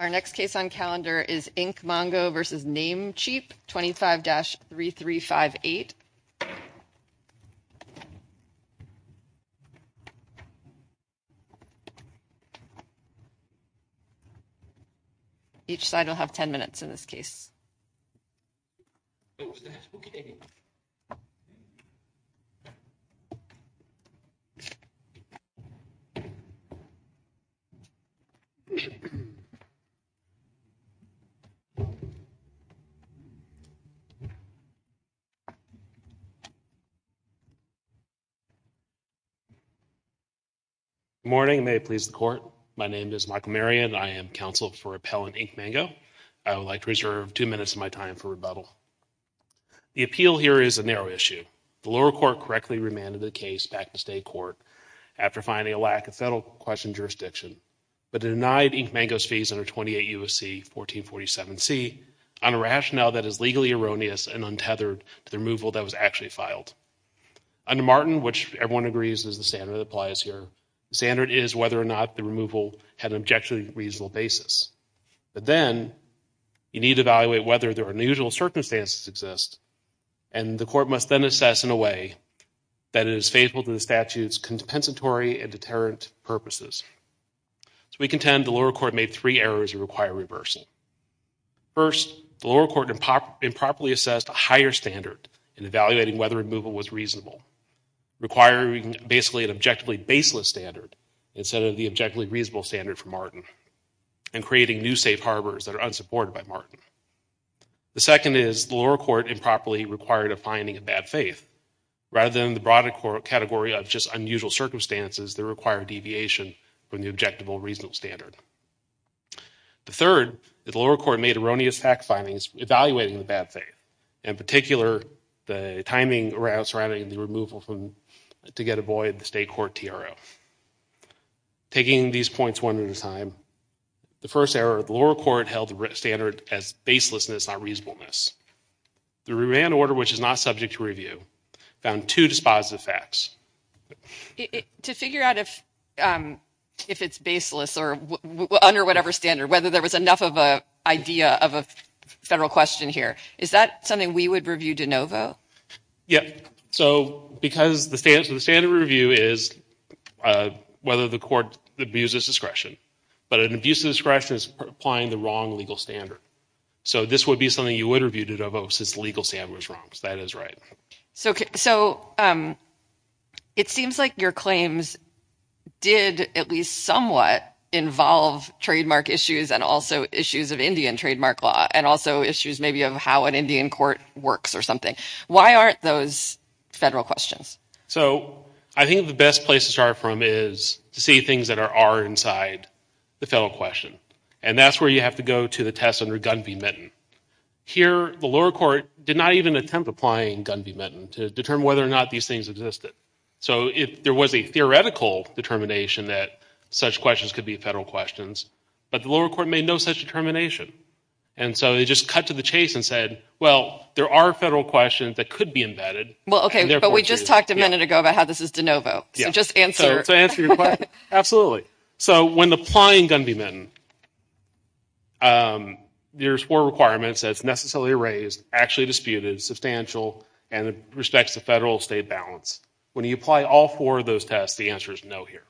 Our next case on calendar is InkMango v. Namecheap, 25-3358. Each side will have 10 minutes in this case. Good morning. May it please the Court. My name is Michael Marion. I am counsel for Appellant InkMango. I would like to reserve two minutes of my time for rebuttal. The appeal here is a narrow issue. The lower court correctly remanded the case back to state court after finding a lack of federal question jurisdiction, but denied InkMango's fees under 28 U.S.C. 1447C on a rationale that is legally erroneous and untethered to the removal that was actually filed. Under Martin, which everyone agrees is the standard that applies here, the standard is whether or not the removal had an objectively reasonable basis. But then, you need to evaluate whether there are unusual circumstances exist, and the court must then assess in a way that is faithful to the statute's compensatory and deterrent purposes. We contend the lower court made three errors that require reversal. First, the lower court improperly assessed a higher standard in evaluating whether removal was reasonable, requiring basically an objectively baseless standard instead of the objectively reasonable standard for Martin, and creating new safe harbors that are unsupported by Martin. The second is the lower court improperly required a finding of bad faith, rather than the broader category of just unusual circumstances that require deviation from the objective or reasonable standard. The third, the lower court made erroneous fact findings evaluating the bad faith, in particular, the timing surrounding the removal to get avoid the state court TRO. Taking these points one at a time, the first error, the lower court held the standard as baselessness, not reasonableness. The remand order, which is not subject to review, found two dispositive facts. To figure out if it's baseless or under whatever standard, whether there was enough of an idea of a federal question here, is that something we would review de novo? Yeah. So because the standard review is whether the court abuses discretion, but an abuse of discretion is applying the wrong legal standard. So this would be something you would review de novo since the legal standard was wrong. So that is right. So it seems like your claims did at least somewhat involve trademark issues and also issues of Indian trademark law, and also issues maybe of how an Indian court works or something. Why aren't those federal questions? So I think the best place to start from is to see things that are inside the federal question. And that's where you have to go to the test under Gun V. Minton. Here, the lower court did not even attempt applying Gun V. Minton to determine whether or not these things existed. So there was a theoretical determination that such questions could be federal questions, but the lower court made no such determination. And so they just cut to the chase and said, well, there are federal questions that could be embedded. Well, okay, but we just talked a minute ago about how this is de novo. So just answer your question. Absolutely. So when applying Gun V. Minton, there's four requirements that's necessarily raised, actually disputed, substantial, and it respects the federal-state balance. When you apply all four of those tests, the answer is no here.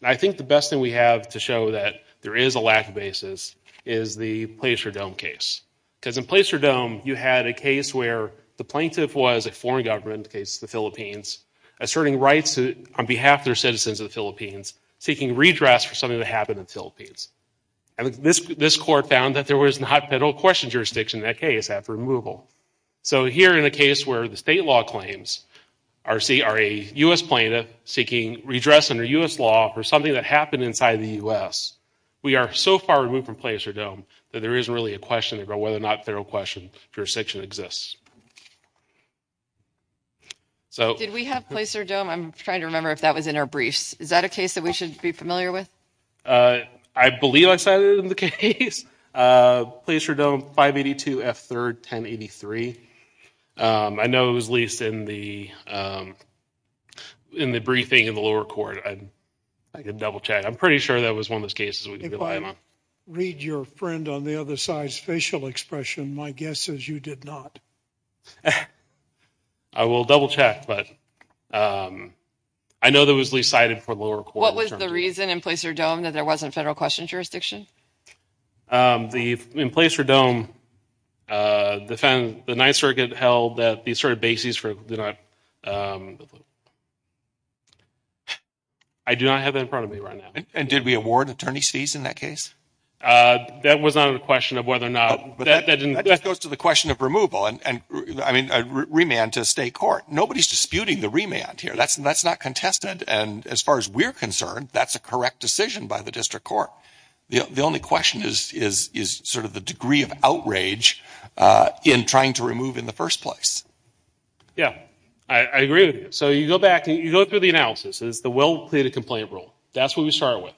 And I think the best thing we have to show that there is a lack of basis is the Placer-Dome case. Because in Placer-Dome, you had a case where the plaintiff was a foreign government, in the case of the Philippines, asserting rights on behalf of their citizens of the Philippines, seeking redress for something that happened in the Philippines. And this court found that there was not federal question jurisdiction in that case after removal. So here in a case where the state law claims are a U.S. plaintiff seeking redress under U.S. law for something that happened inside the U.S., we are so far removed from Placer-Dome that there isn't really a question about whether or not federal question jurisdiction exists. Did we have Placer-Dome? I'm trying to remember if that was in our briefs. Is that a case that we should be familiar with? I believe I cited it in the case. Placer-Dome, 582 F. 3rd, 1083. I know it was leased in the briefing in the lower court. I can double-check. I'm pretty sure that was one of those cases we could rely on. If I read your friend on the other side's facial expression, my guess is you did not. I will double-check, but I know that it was leased cited for the lower court. What was the reason in Placer-Dome that there wasn't federal question jurisdiction? In Placer-Dome, the Ninth Circuit held that the sort of bases for – I do not have that in front of me right now. And did we award attorney's fees in that case? That was not a question of whether or not – That goes to the question of removal and remand to state court. Nobody is disputing the remand here. That's not contested. And as far as we're concerned, that's a correct decision by the district court. The only question is sort of the degree of outrage in trying to remove in the first place. Yeah, I agree with you. So you go back and you go through the analysis. It's the well-pleaded complaint rule. That's what we started with.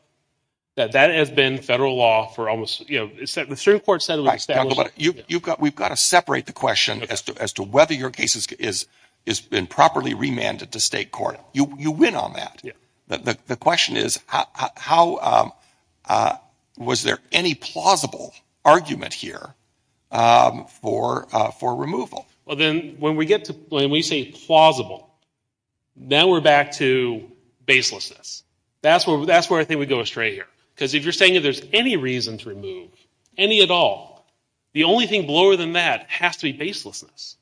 That has been federal law for almost – The Supreme Court said it was – We've got to separate the question as to whether your case has been properly remanded to state court. You win on that. The question is how – was there any plausible argument here for removal? When we say plausible, now we're back to baselessness. That's where I think we go astray here. Because if you're saying that there's any reason to remove, any at all, the only thing lower than that has to be baselessness.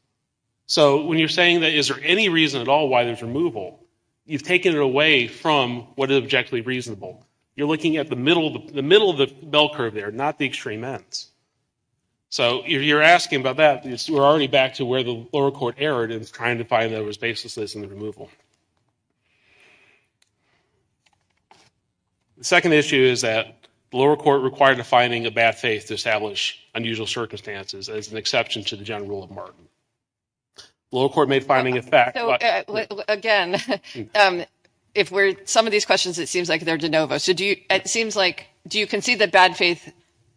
So when you're saying that is there any reason at all why there's removal, you've taken it away from what is objectively reasonable. You're looking at the middle of the bell curve there, not the extreme ends. So if you're asking about that, we're already back to where the lower court erred in trying to find that there was baselessness in the removal. The second issue is that the lower court required a finding of bad faith to establish unusual circumstances as an exception to the general rule of Martin. The lower court made a finding of fact, but – Again, if we're – some of these questions, it seems like they're de novo. So do you – it seems like – do you concede that bad faith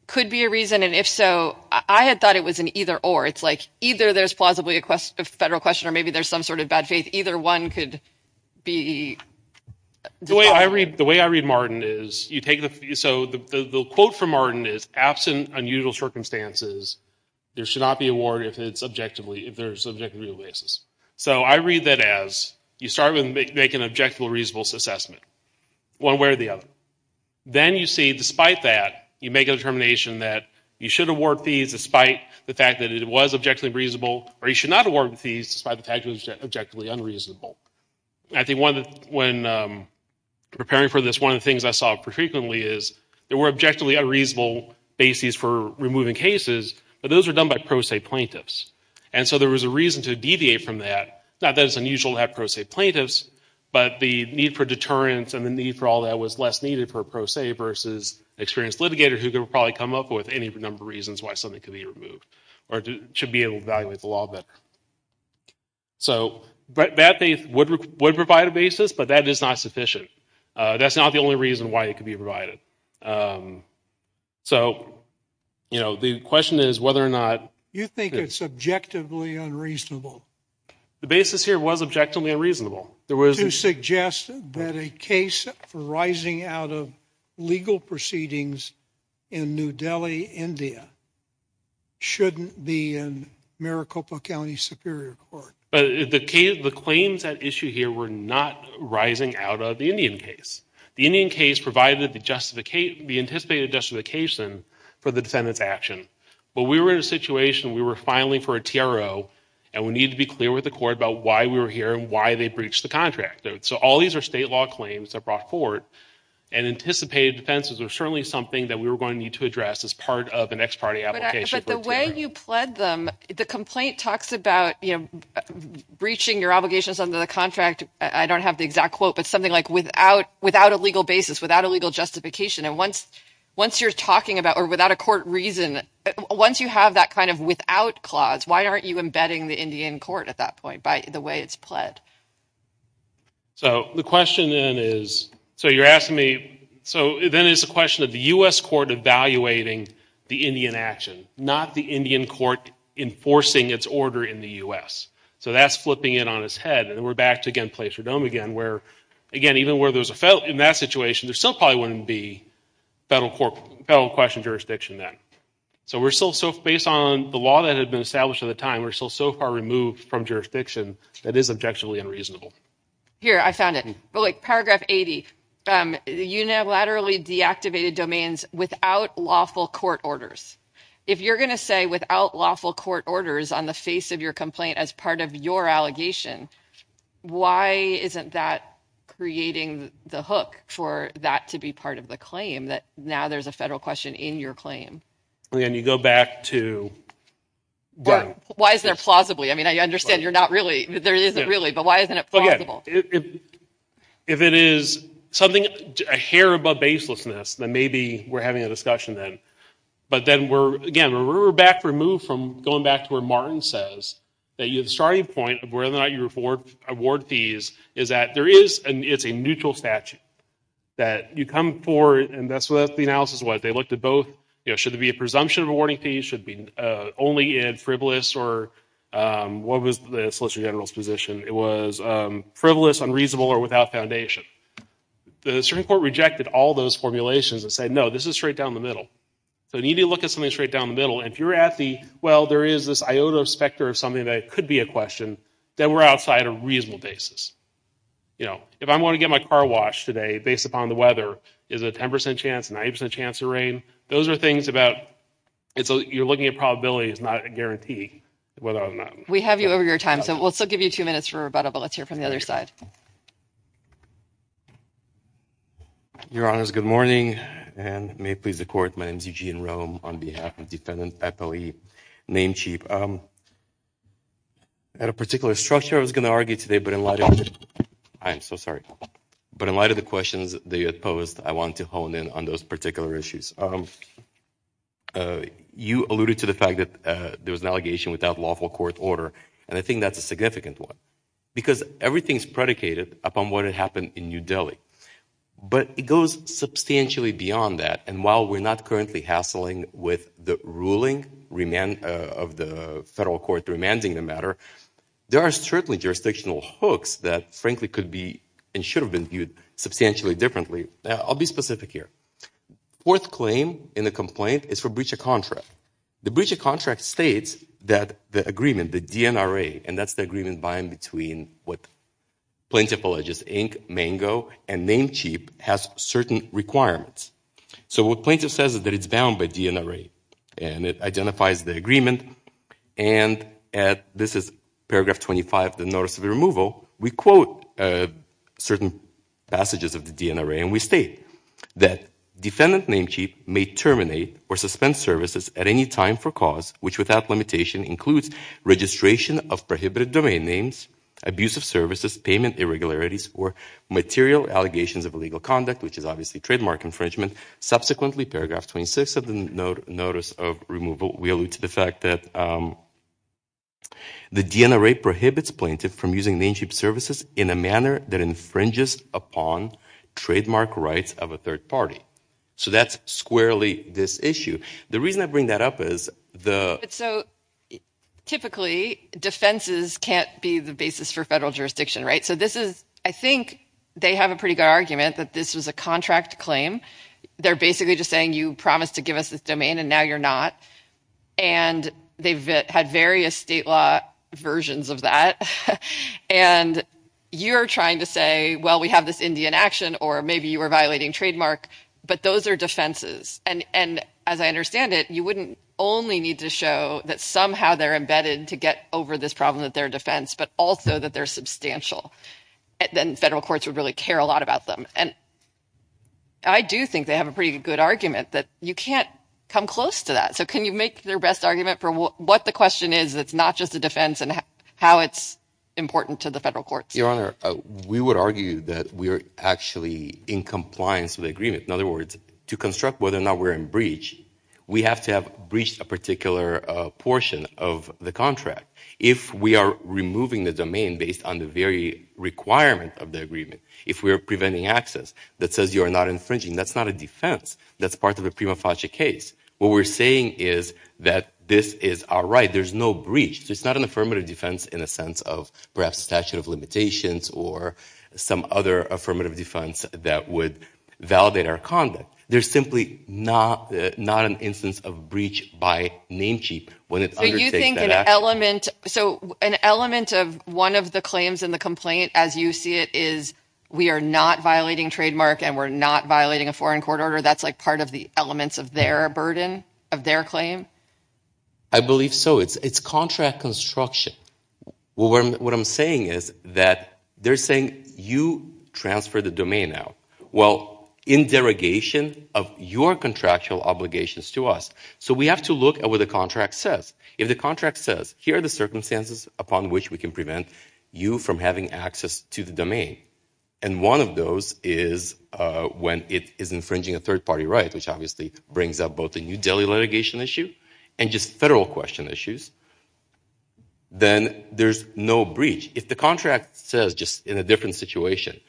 could be a reason? And if so, I had thought it was an either or. It's like either there's plausibly a federal question or maybe there's some sort of bad faith. Either one could be – The way I read Martin is you take the – so the quote from Martin is, absent unusual circumstances, there should not be a warrant if it's objectively – if there's an objectively reasonable basis. So I read that as you start with making an objectively reasonable assessment, one way or the other. Then you see, despite that, you make a determination that you should award fees despite the fact that it was objectively reasonable, or you should not award fees despite the fact that it was objectively unreasonable. I think one – when preparing for this, one of the things I saw frequently is there were objectively unreasonable bases for removing cases, but those were done by pro se plaintiffs. And so there was a reason to deviate from that. Not that it's unusual to have pro se plaintiffs, but the need for deterrence and the need for all that was less needed for a pro se versus an experienced litigator who could probably come up with any number of reasons why something could be removed or should be able to evaluate the law better. So that would provide a basis, but that is not sufficient. That's not the only reason why it could be provided. So, you know, the question is whether or not – You think it's objectively unreasonable. The basis here was objectively unreasonable. To suggest that a case for rising out of legal proceedings in New Delhi, India, shouldn't be in Maricopa County Superior Court. But the claims at issue here were not rising out of the Indian case. The Indian case provided the anticipated justification for the defendant's action. But we were in a situation, we were filing for a TRO, and we needed to be clear with the court about why we were here and why they breached the contract. So all these are state law claims that are brought forward, and anticipated offenses are certainly something that we were going to need to address as part of an ex parte application. But the way you pled them, the complaint talks about, you know, breaching your obligations under the contract. I don't have the exact quote, but something like without a legal basis, without a legal justification. And once you're talking about – or without a court reason, once you have that kind of without clause, why aren't you embedding the Indian court at that point by the way it's pled? So the question then is – so you're asking me – so then it's a question of the U.S. court evaluating the Indian action, not the Indian court enforcing its order in the U.S. So that's flipping it on its head. And we're back to, again, Placer Dome again, where, again, even where there's a – in that situation, there still probably wouldn't be federal question jurisdiction then. So we're still so – based on the law that had been established at the time, we're still so far removed from jurisdiction that is objectionably unreasonable. Here, I found it. Paragraph 80, unilaterally deactivated domains without lawful court orders. If you're going to say without lawful court orders on the face of your complaint as part of your allegation, why isn't that creating the hook for that to be part of the claim, that now there's a federal question in your claim? Again, you go back to – Or why is there plausibly? I mean, I understand you're not really – there isn't really, but why isn't it plausible? Again, if it is something a hair above baselessness, then maybe we're having a discussion then. But then we're – again, we're back removed from going back to where Martin says that the starting point of whether or not you award fees is that there is – it's a neutral statute that you come for, and that's what the analysis was. They looked at both, you know, should there be a presumption of awarding fees, should it be only in frivolous or – what was the Solicitor General's position? It was frivolous, unreasonable, or without foundation. The Supreme Court rejected all those formulations and said, no, this is straight down the middle. So you need to look at something straight down the middle. And if you're at the, well, there is this iota of specter of something that could be a question, then we're outside a reasonable basis. You know, if I'm going to get my car washed today based upon the weather, is it a 10% chance, a 90% chance of rain? Those are things about – you're looking at probabilities, not a guarantee whether or not – We have you over your time, so we'll still give you two minutes for rebuttal, but let's hear from the other side. Your Honors, good morning, and may it please the Court, my name is Eugene Rome on behalf of Defendant Ethel E. Namecheap. At a particular structure I was going to argue today, but in light of – I am so sorry. But in light of the questions that you had posed, I wanted to hone in on those particular issues. You alluded to the fact that there was an allegation without lawful court order, and I think that's a significant one, because everything is predicated upon what had happened in New Delhi. But it goes substantially beyond that, and while we're not currently hassling with the ruling of the federal court remanding the matter, there are certainly jurisdictional hooks that frankly could be and should have been viewed substantially differently. I'll be specific here. Fourth claim in the complaint is for breach of contract. The breach of contract states that the agreement, the DNRA, and that's the agreement bind between what Plaintiff alleges, Inc., Mango, and Namecheap has certain requirements. So what Plaintiff says is that it's bound by DNRA, and it identifies the agreement, and this is paragraph 25, the notice of removal. We quote certain passages of the DNRA, and we state that Defendant Namecheap may terminate or suspend services at any time for cause which without limitation includes registration of prohibited domain names, abusive services, payment irregularities, or material allegations of illegal conduct, which is obviously trademark infringement. Subsequently, paragraph 26 of the notice of removal, we allude to the fact that the DNRA prohibits Plaintiff from using Namecheap services in a manner that infringes upon trademark rights of a third party. So that's squarely this issue. The reason I bring that up is the – So typically defenses can't be the basis for federal jurisdiction, right? So this is – I think they have a pretty good argument that this was a contract claim. They're basically just saying you promised to give us this domain and now you're not, and they've had various state law versions of that, and you're trying to say, well, we have this Indian action, or maybe you were violating trademark, but those are defenses. And as I understand it, you wouldn't only need to show that somehow they're embedded to get over this problem that they're a defense, but also that they're substantial. Then federal courts would really care a lot about them. And I do think they have a pretty good argument that you can't come close to that. So can you make their best argument for what the question is that's not just a defense and how it's important to the federal courts? Your Honor, we would argue that we are actually in compliance with the agreement. In other words, to construct whether or not we're in breach, we have to have breached a particular portion of the contract. If we are removing the domain based on the very requirement of the agreement, if we are preventing access that says you are not infringing, that's not a defense. That's part of a prima facie case. What we're saying is that this is our right. There's no breach, so it's not an affirmative defense in the sense of perhaps statute of limitations or some other affirmative defense that would validate our conduct. There's simply not an instance of breach by name cheap when it undertakes that action. So you think an element of one of the claims in the complaint as you see it is we are not violating trademark and we're not violating a foreign court order. That's like part of the elements of their burden, of their claim? I believe so. It's contract construction. What I'm saying is that they're saying you transfer the domain out. Well, in derogation of your contractual obligations to us. So we have to look at what the contract says. If the contract says here are the circumstances upon which we can prevent you from having access to the domain, and one of those is when it is infringing a third party right, which obviously brings up both the New Delhi litigation issue and just federal question issues, then there's no breach. If the contract says just in a different situation,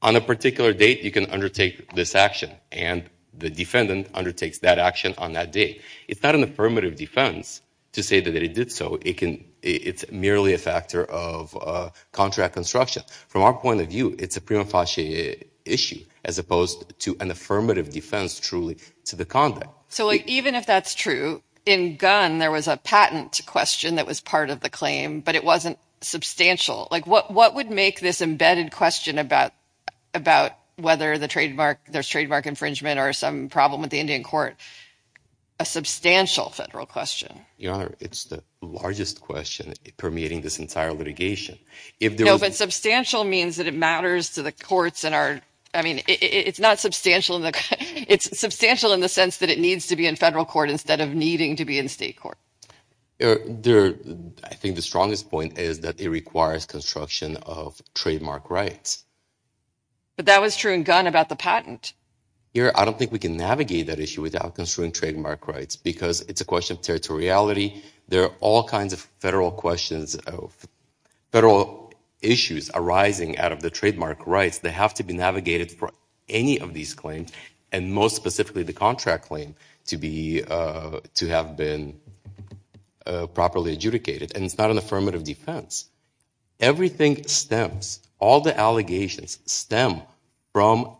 on a particular date you can undertake this action and the defendant undertakes that action on that date, it's not an affirmative defense to say that it did so. It's merely a factor of contract construction. From our point of view, it's a prima facie issue as opposed to an affirmative defense truly to the conduct. So even if that's true, in Gunn there was a patent question that was part of the claim, but it wasn't substantial. What would make this embedded question about whether there's trademark infringement or some problem with the Indian court a substantial federal question? Your Honor, it's the largest question permeating this entire litigation. No, but substantial means that it matters to the courts. It's not substantial. It's substantial in the sense that it needs to be in federal court instead of needing to be in state court. I think the strongest point is that it requires construction of trademark rights. But that was true in Gunn about the patent. Your Honor, I don't think we can navigate that issue without construing trademark rights because it's a question of territoriality. There are all kinds of federal issues arising out of the trademark rights. They have to be navigated for any of these claims, and most specifically the contract claim to have been properly adjudicated. And it's not an affirmative defense. Everything stems, all the allegations stem from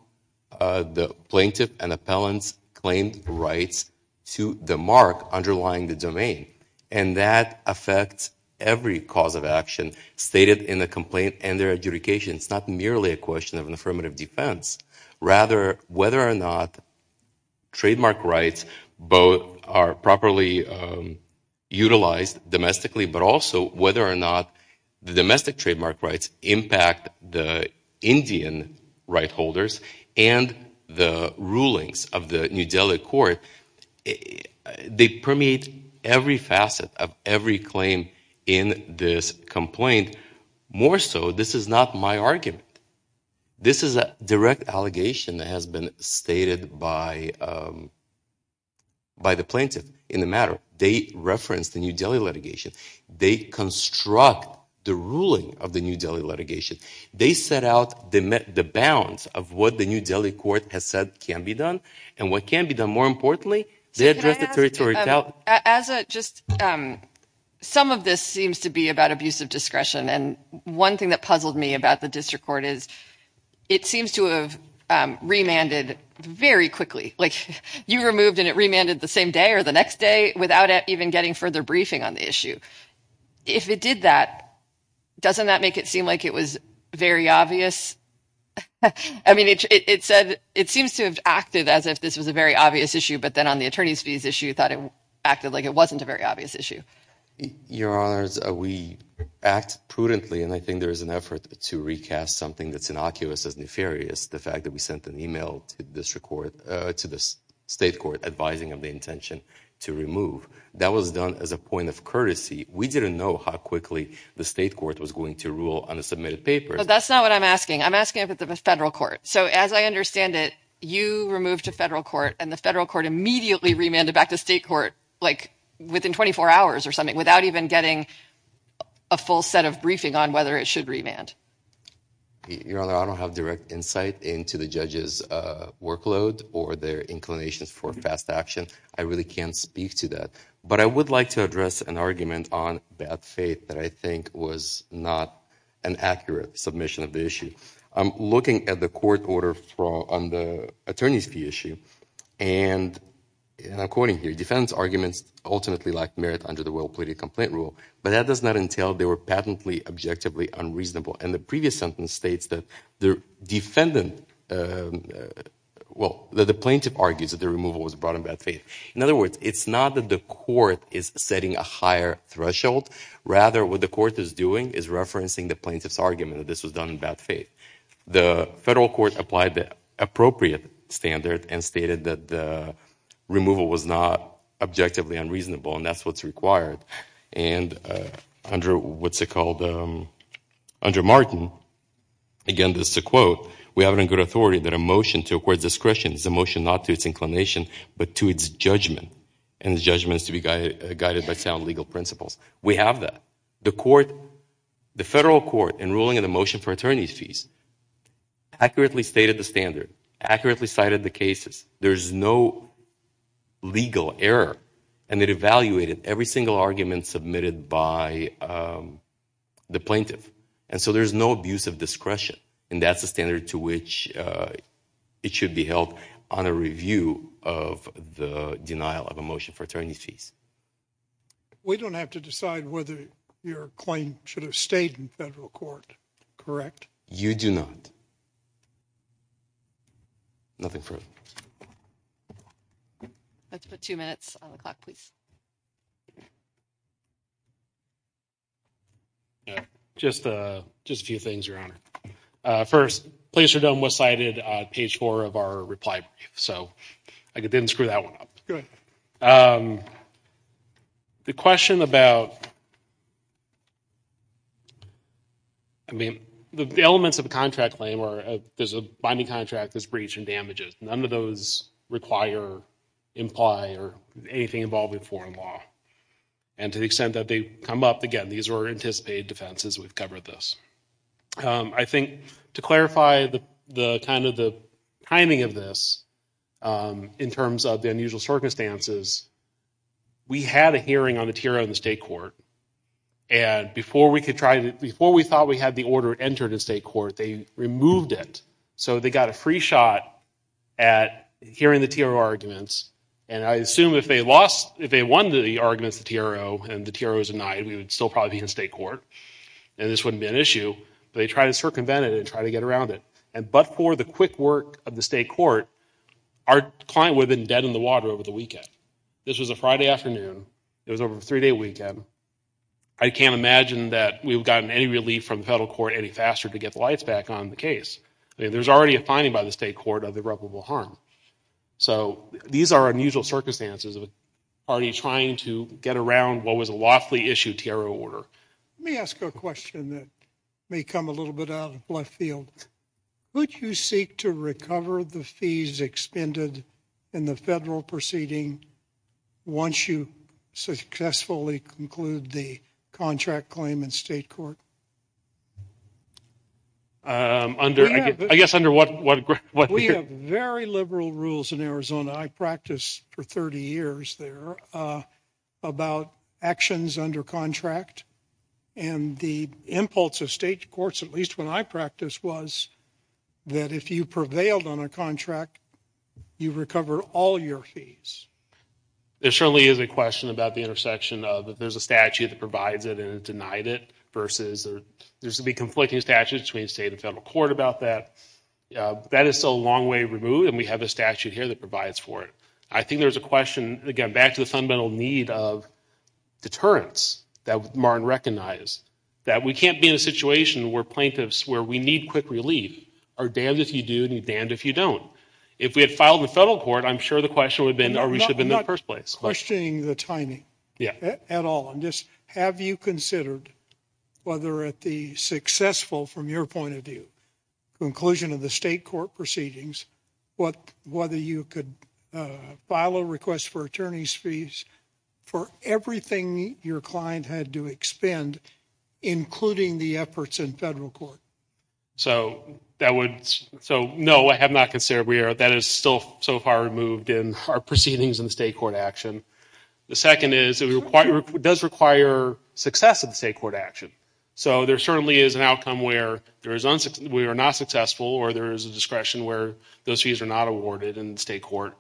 the plaintiff and appellant's claimed rights to the mark underlying the domain. And that affects every cause of action stated in the complaint and their adjudication. It's not merely a question of an affirmative defense. Rather, whether or not trademark rights both are properly utilized domestically, but also whether or not the domestic trademark rights impact the Indian right holders and the rulings of the New Delhi court, they permeate every facet of every claim in this complaint. More so, this is not my argument. This is a direct allegation that has been stated by the plaintiff in the matter. They referenced the New Delhi litigation. They construct the ruling of the New Delhi litigation. They set out the bounds of what the New Delhi court has said can be done, and what can be done more importantly, they address the territoriality. So as a just, some of this seems to be about abusive discretion. And one thing that puzzled me about the district court is it seems to have remanded very quickly. Like you removed and it remanded the same day or the next day without even getting further briefing on the issue. If it did that, doesn't that make it seem like it was very obvious? I mean, it said it seems to have acted as if this was a very obvious issue, but then on the attorney's fees issue thought it acted like it wasn't a very obvious issue. Your Honor, we act prudently, and I think there is an effort to recast something that's innocuous as nefarious, the fact that we sent an email to the state court advising of the intention to remove. That was done as a point of courtesy. We didn't know how quickly the state court was going to rule on a submitted paper. That's not what I'm asking. I'm asking if it's a federal court. So as I understand it, you removed to federal court and the federal court immediately remanded back to state court, like within 24 hours or something, without even getting a full set of briefing on whether it should remand. Your Honor, I don't have direct insight into the judge's workload or their inclinations for fast action. I really can't speak to that. But I would like to address an argument on bad faith that I think was not an accurate submission of the issue. I'm looking at the court order on the attorney's fee issue, and I'm quoting here, defense arguments ultimately lack merit under the well-pleaded complaint rule, but that does not entail they were patently, objectively unreasonable. And the previous sentence states that the plaintiff argues that the removal was brought in bad faith. In other words, it's not that the court is setting a higher threshold. Rather, what the court is doing is referencing the plaintiff's argument that this was done in bad faith. The federal court applied the appropriate standard and stated that the removal was not objectively unreasonable, and that's what's required. And under Martin, again, this is a quote, we have it on good authority that a motion to acquire discretion is a motion not to its inclination but to its judgment, and the judgment is to be guided by sound legal principles. We have that. The federal court, in ruling on the motion for attorney's fees, accurately stated the standard, accurately cited the cases. There's no legal error, and it evaluated every single argument submitted by the plaintiff. And so there's no abuse of discretion, and that's the standard to which it should be held on a review of the denial of a motion for attorney's fees. We don't have to decide whether your claim should have stayed in federal court, correct? You do not. Nothing further. Let's put two minutes on the clock, please. Just a few things, Your Honor. First, Placer Dome was cited on page four of our reply brief, so I didn't screw that one up. Go ahead. The question about the elements of a contract claim where there's a binding contract that's breached and damages, none of those require, imply, or anything involving foreign law. And to the extent that they come up, again, these are anticipated defenses. We've covered this. I think to clarify kind of the timing of this in terms of the unusual circumstances, we had a hearing on the TRO in the state court, and before we thought we had the order entered in state court, they removed it. So they got a free shot at hearing the TRO arguments, and I assume if they won the arguments, the TRO, and the TRO was denied, we would still probably be in state court, and this wouldn't be an issue, but they tried to circumvent it and try to get around it. But for the quick work of the state court, our client would have been dead in the water over the weekend. This was a Friday afternoon. It was over a three-day weekend. I can't imagine that we've gotten any relief from the federal court any faster to get the lights back on the case. There's already a finding by the state court of irreparable harm. So these are unusual circumstances of a party trying to get around what was a lawfully issued TRO order. Let me ask a question that may come a little bit out of left field. Would you seek to recover the fees expended in the federal proceeding once you successfully conclude the contract claim in state court? I guess under what— We have very liberal rules in Arizona. I practiced for 30 years there about actions under contract, and the impulse of state courts, at least when I practiced, was that if you prevailed on a contract, you recover all your fees. There certainly is a question about the intersection of there's a statute that provides it and denied it versus there's a big conflicting statute between state and federal court about that. That is still a long way removed, and we have a statute here that provides for it. I think there's a question, again, back to the fundamental need of deterrence that Martin recognized, that we can't be in a situation where plaintiffs, where we need quick relief, are damned if you do and damned if you don't. If we had filed in the federal court, I'm sure the question would have been, or we should have been in the first place. I'm not questioning the timing at all. Just have you considered whether at the successful, from your point of view, conclusion of the state court proceedings, whether you could file a request for attorney's fees for everything your client had to expend, including the efforts in federal court? No, I have not considered. That is still so far removed in our proceedings in the state court action. The second is it does require success in the state court action. There certainly is an outcome where we are not successful or there is a discretion where those fees are not awarded in the state court.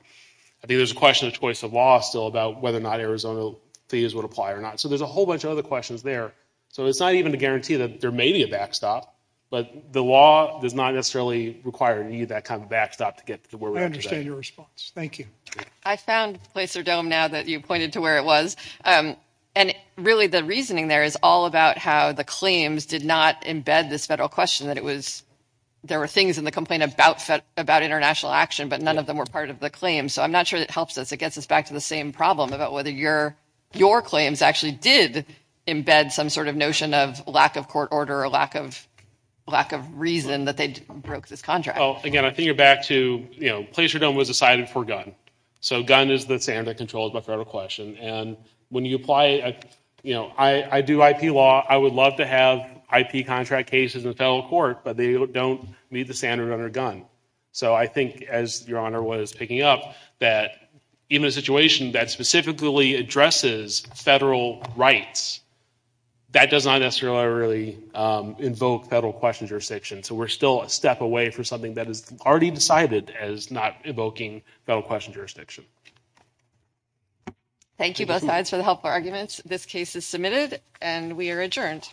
I think there's a question of choice of law still about whether or not Arizona fees would apply or not. There's a whole bunch of other questions there. It's not even a guarantee that there may be a backstop, but the law does not necessarily require that kind of backstop to get to where we are today. I understand your response. Thank you. I found Placer Dome now that you pointed to where it was. Really, the reasoning there is all about how the claims did not embed this federal question. There were things in the complaint about international action, but none of them were part of the claim. I'm not sure that helps us. It gets us back to the same problem about whether your claims actually did embed some sort of notion of lack of court order or lack of reason that they broke this contract. Again, I think you're back to Placer Dome was decided for Gunn. Gunn is the standard that controls the federal question. When you apply, I do IP law. I would love to have IP contract cases in the federal court, but they don't meet the standard under Gunn. I think, as Your Honor was picking up, that even a situation that specifically addresses federal rights, that does not necessarily invoke federal question jurisdiction. We're still a step away from something that is already decided as not evoking federal question jurisdiction. Thank you, both sides, for the helpful arguments. This case is submitted, and we are adjourned. Thank you.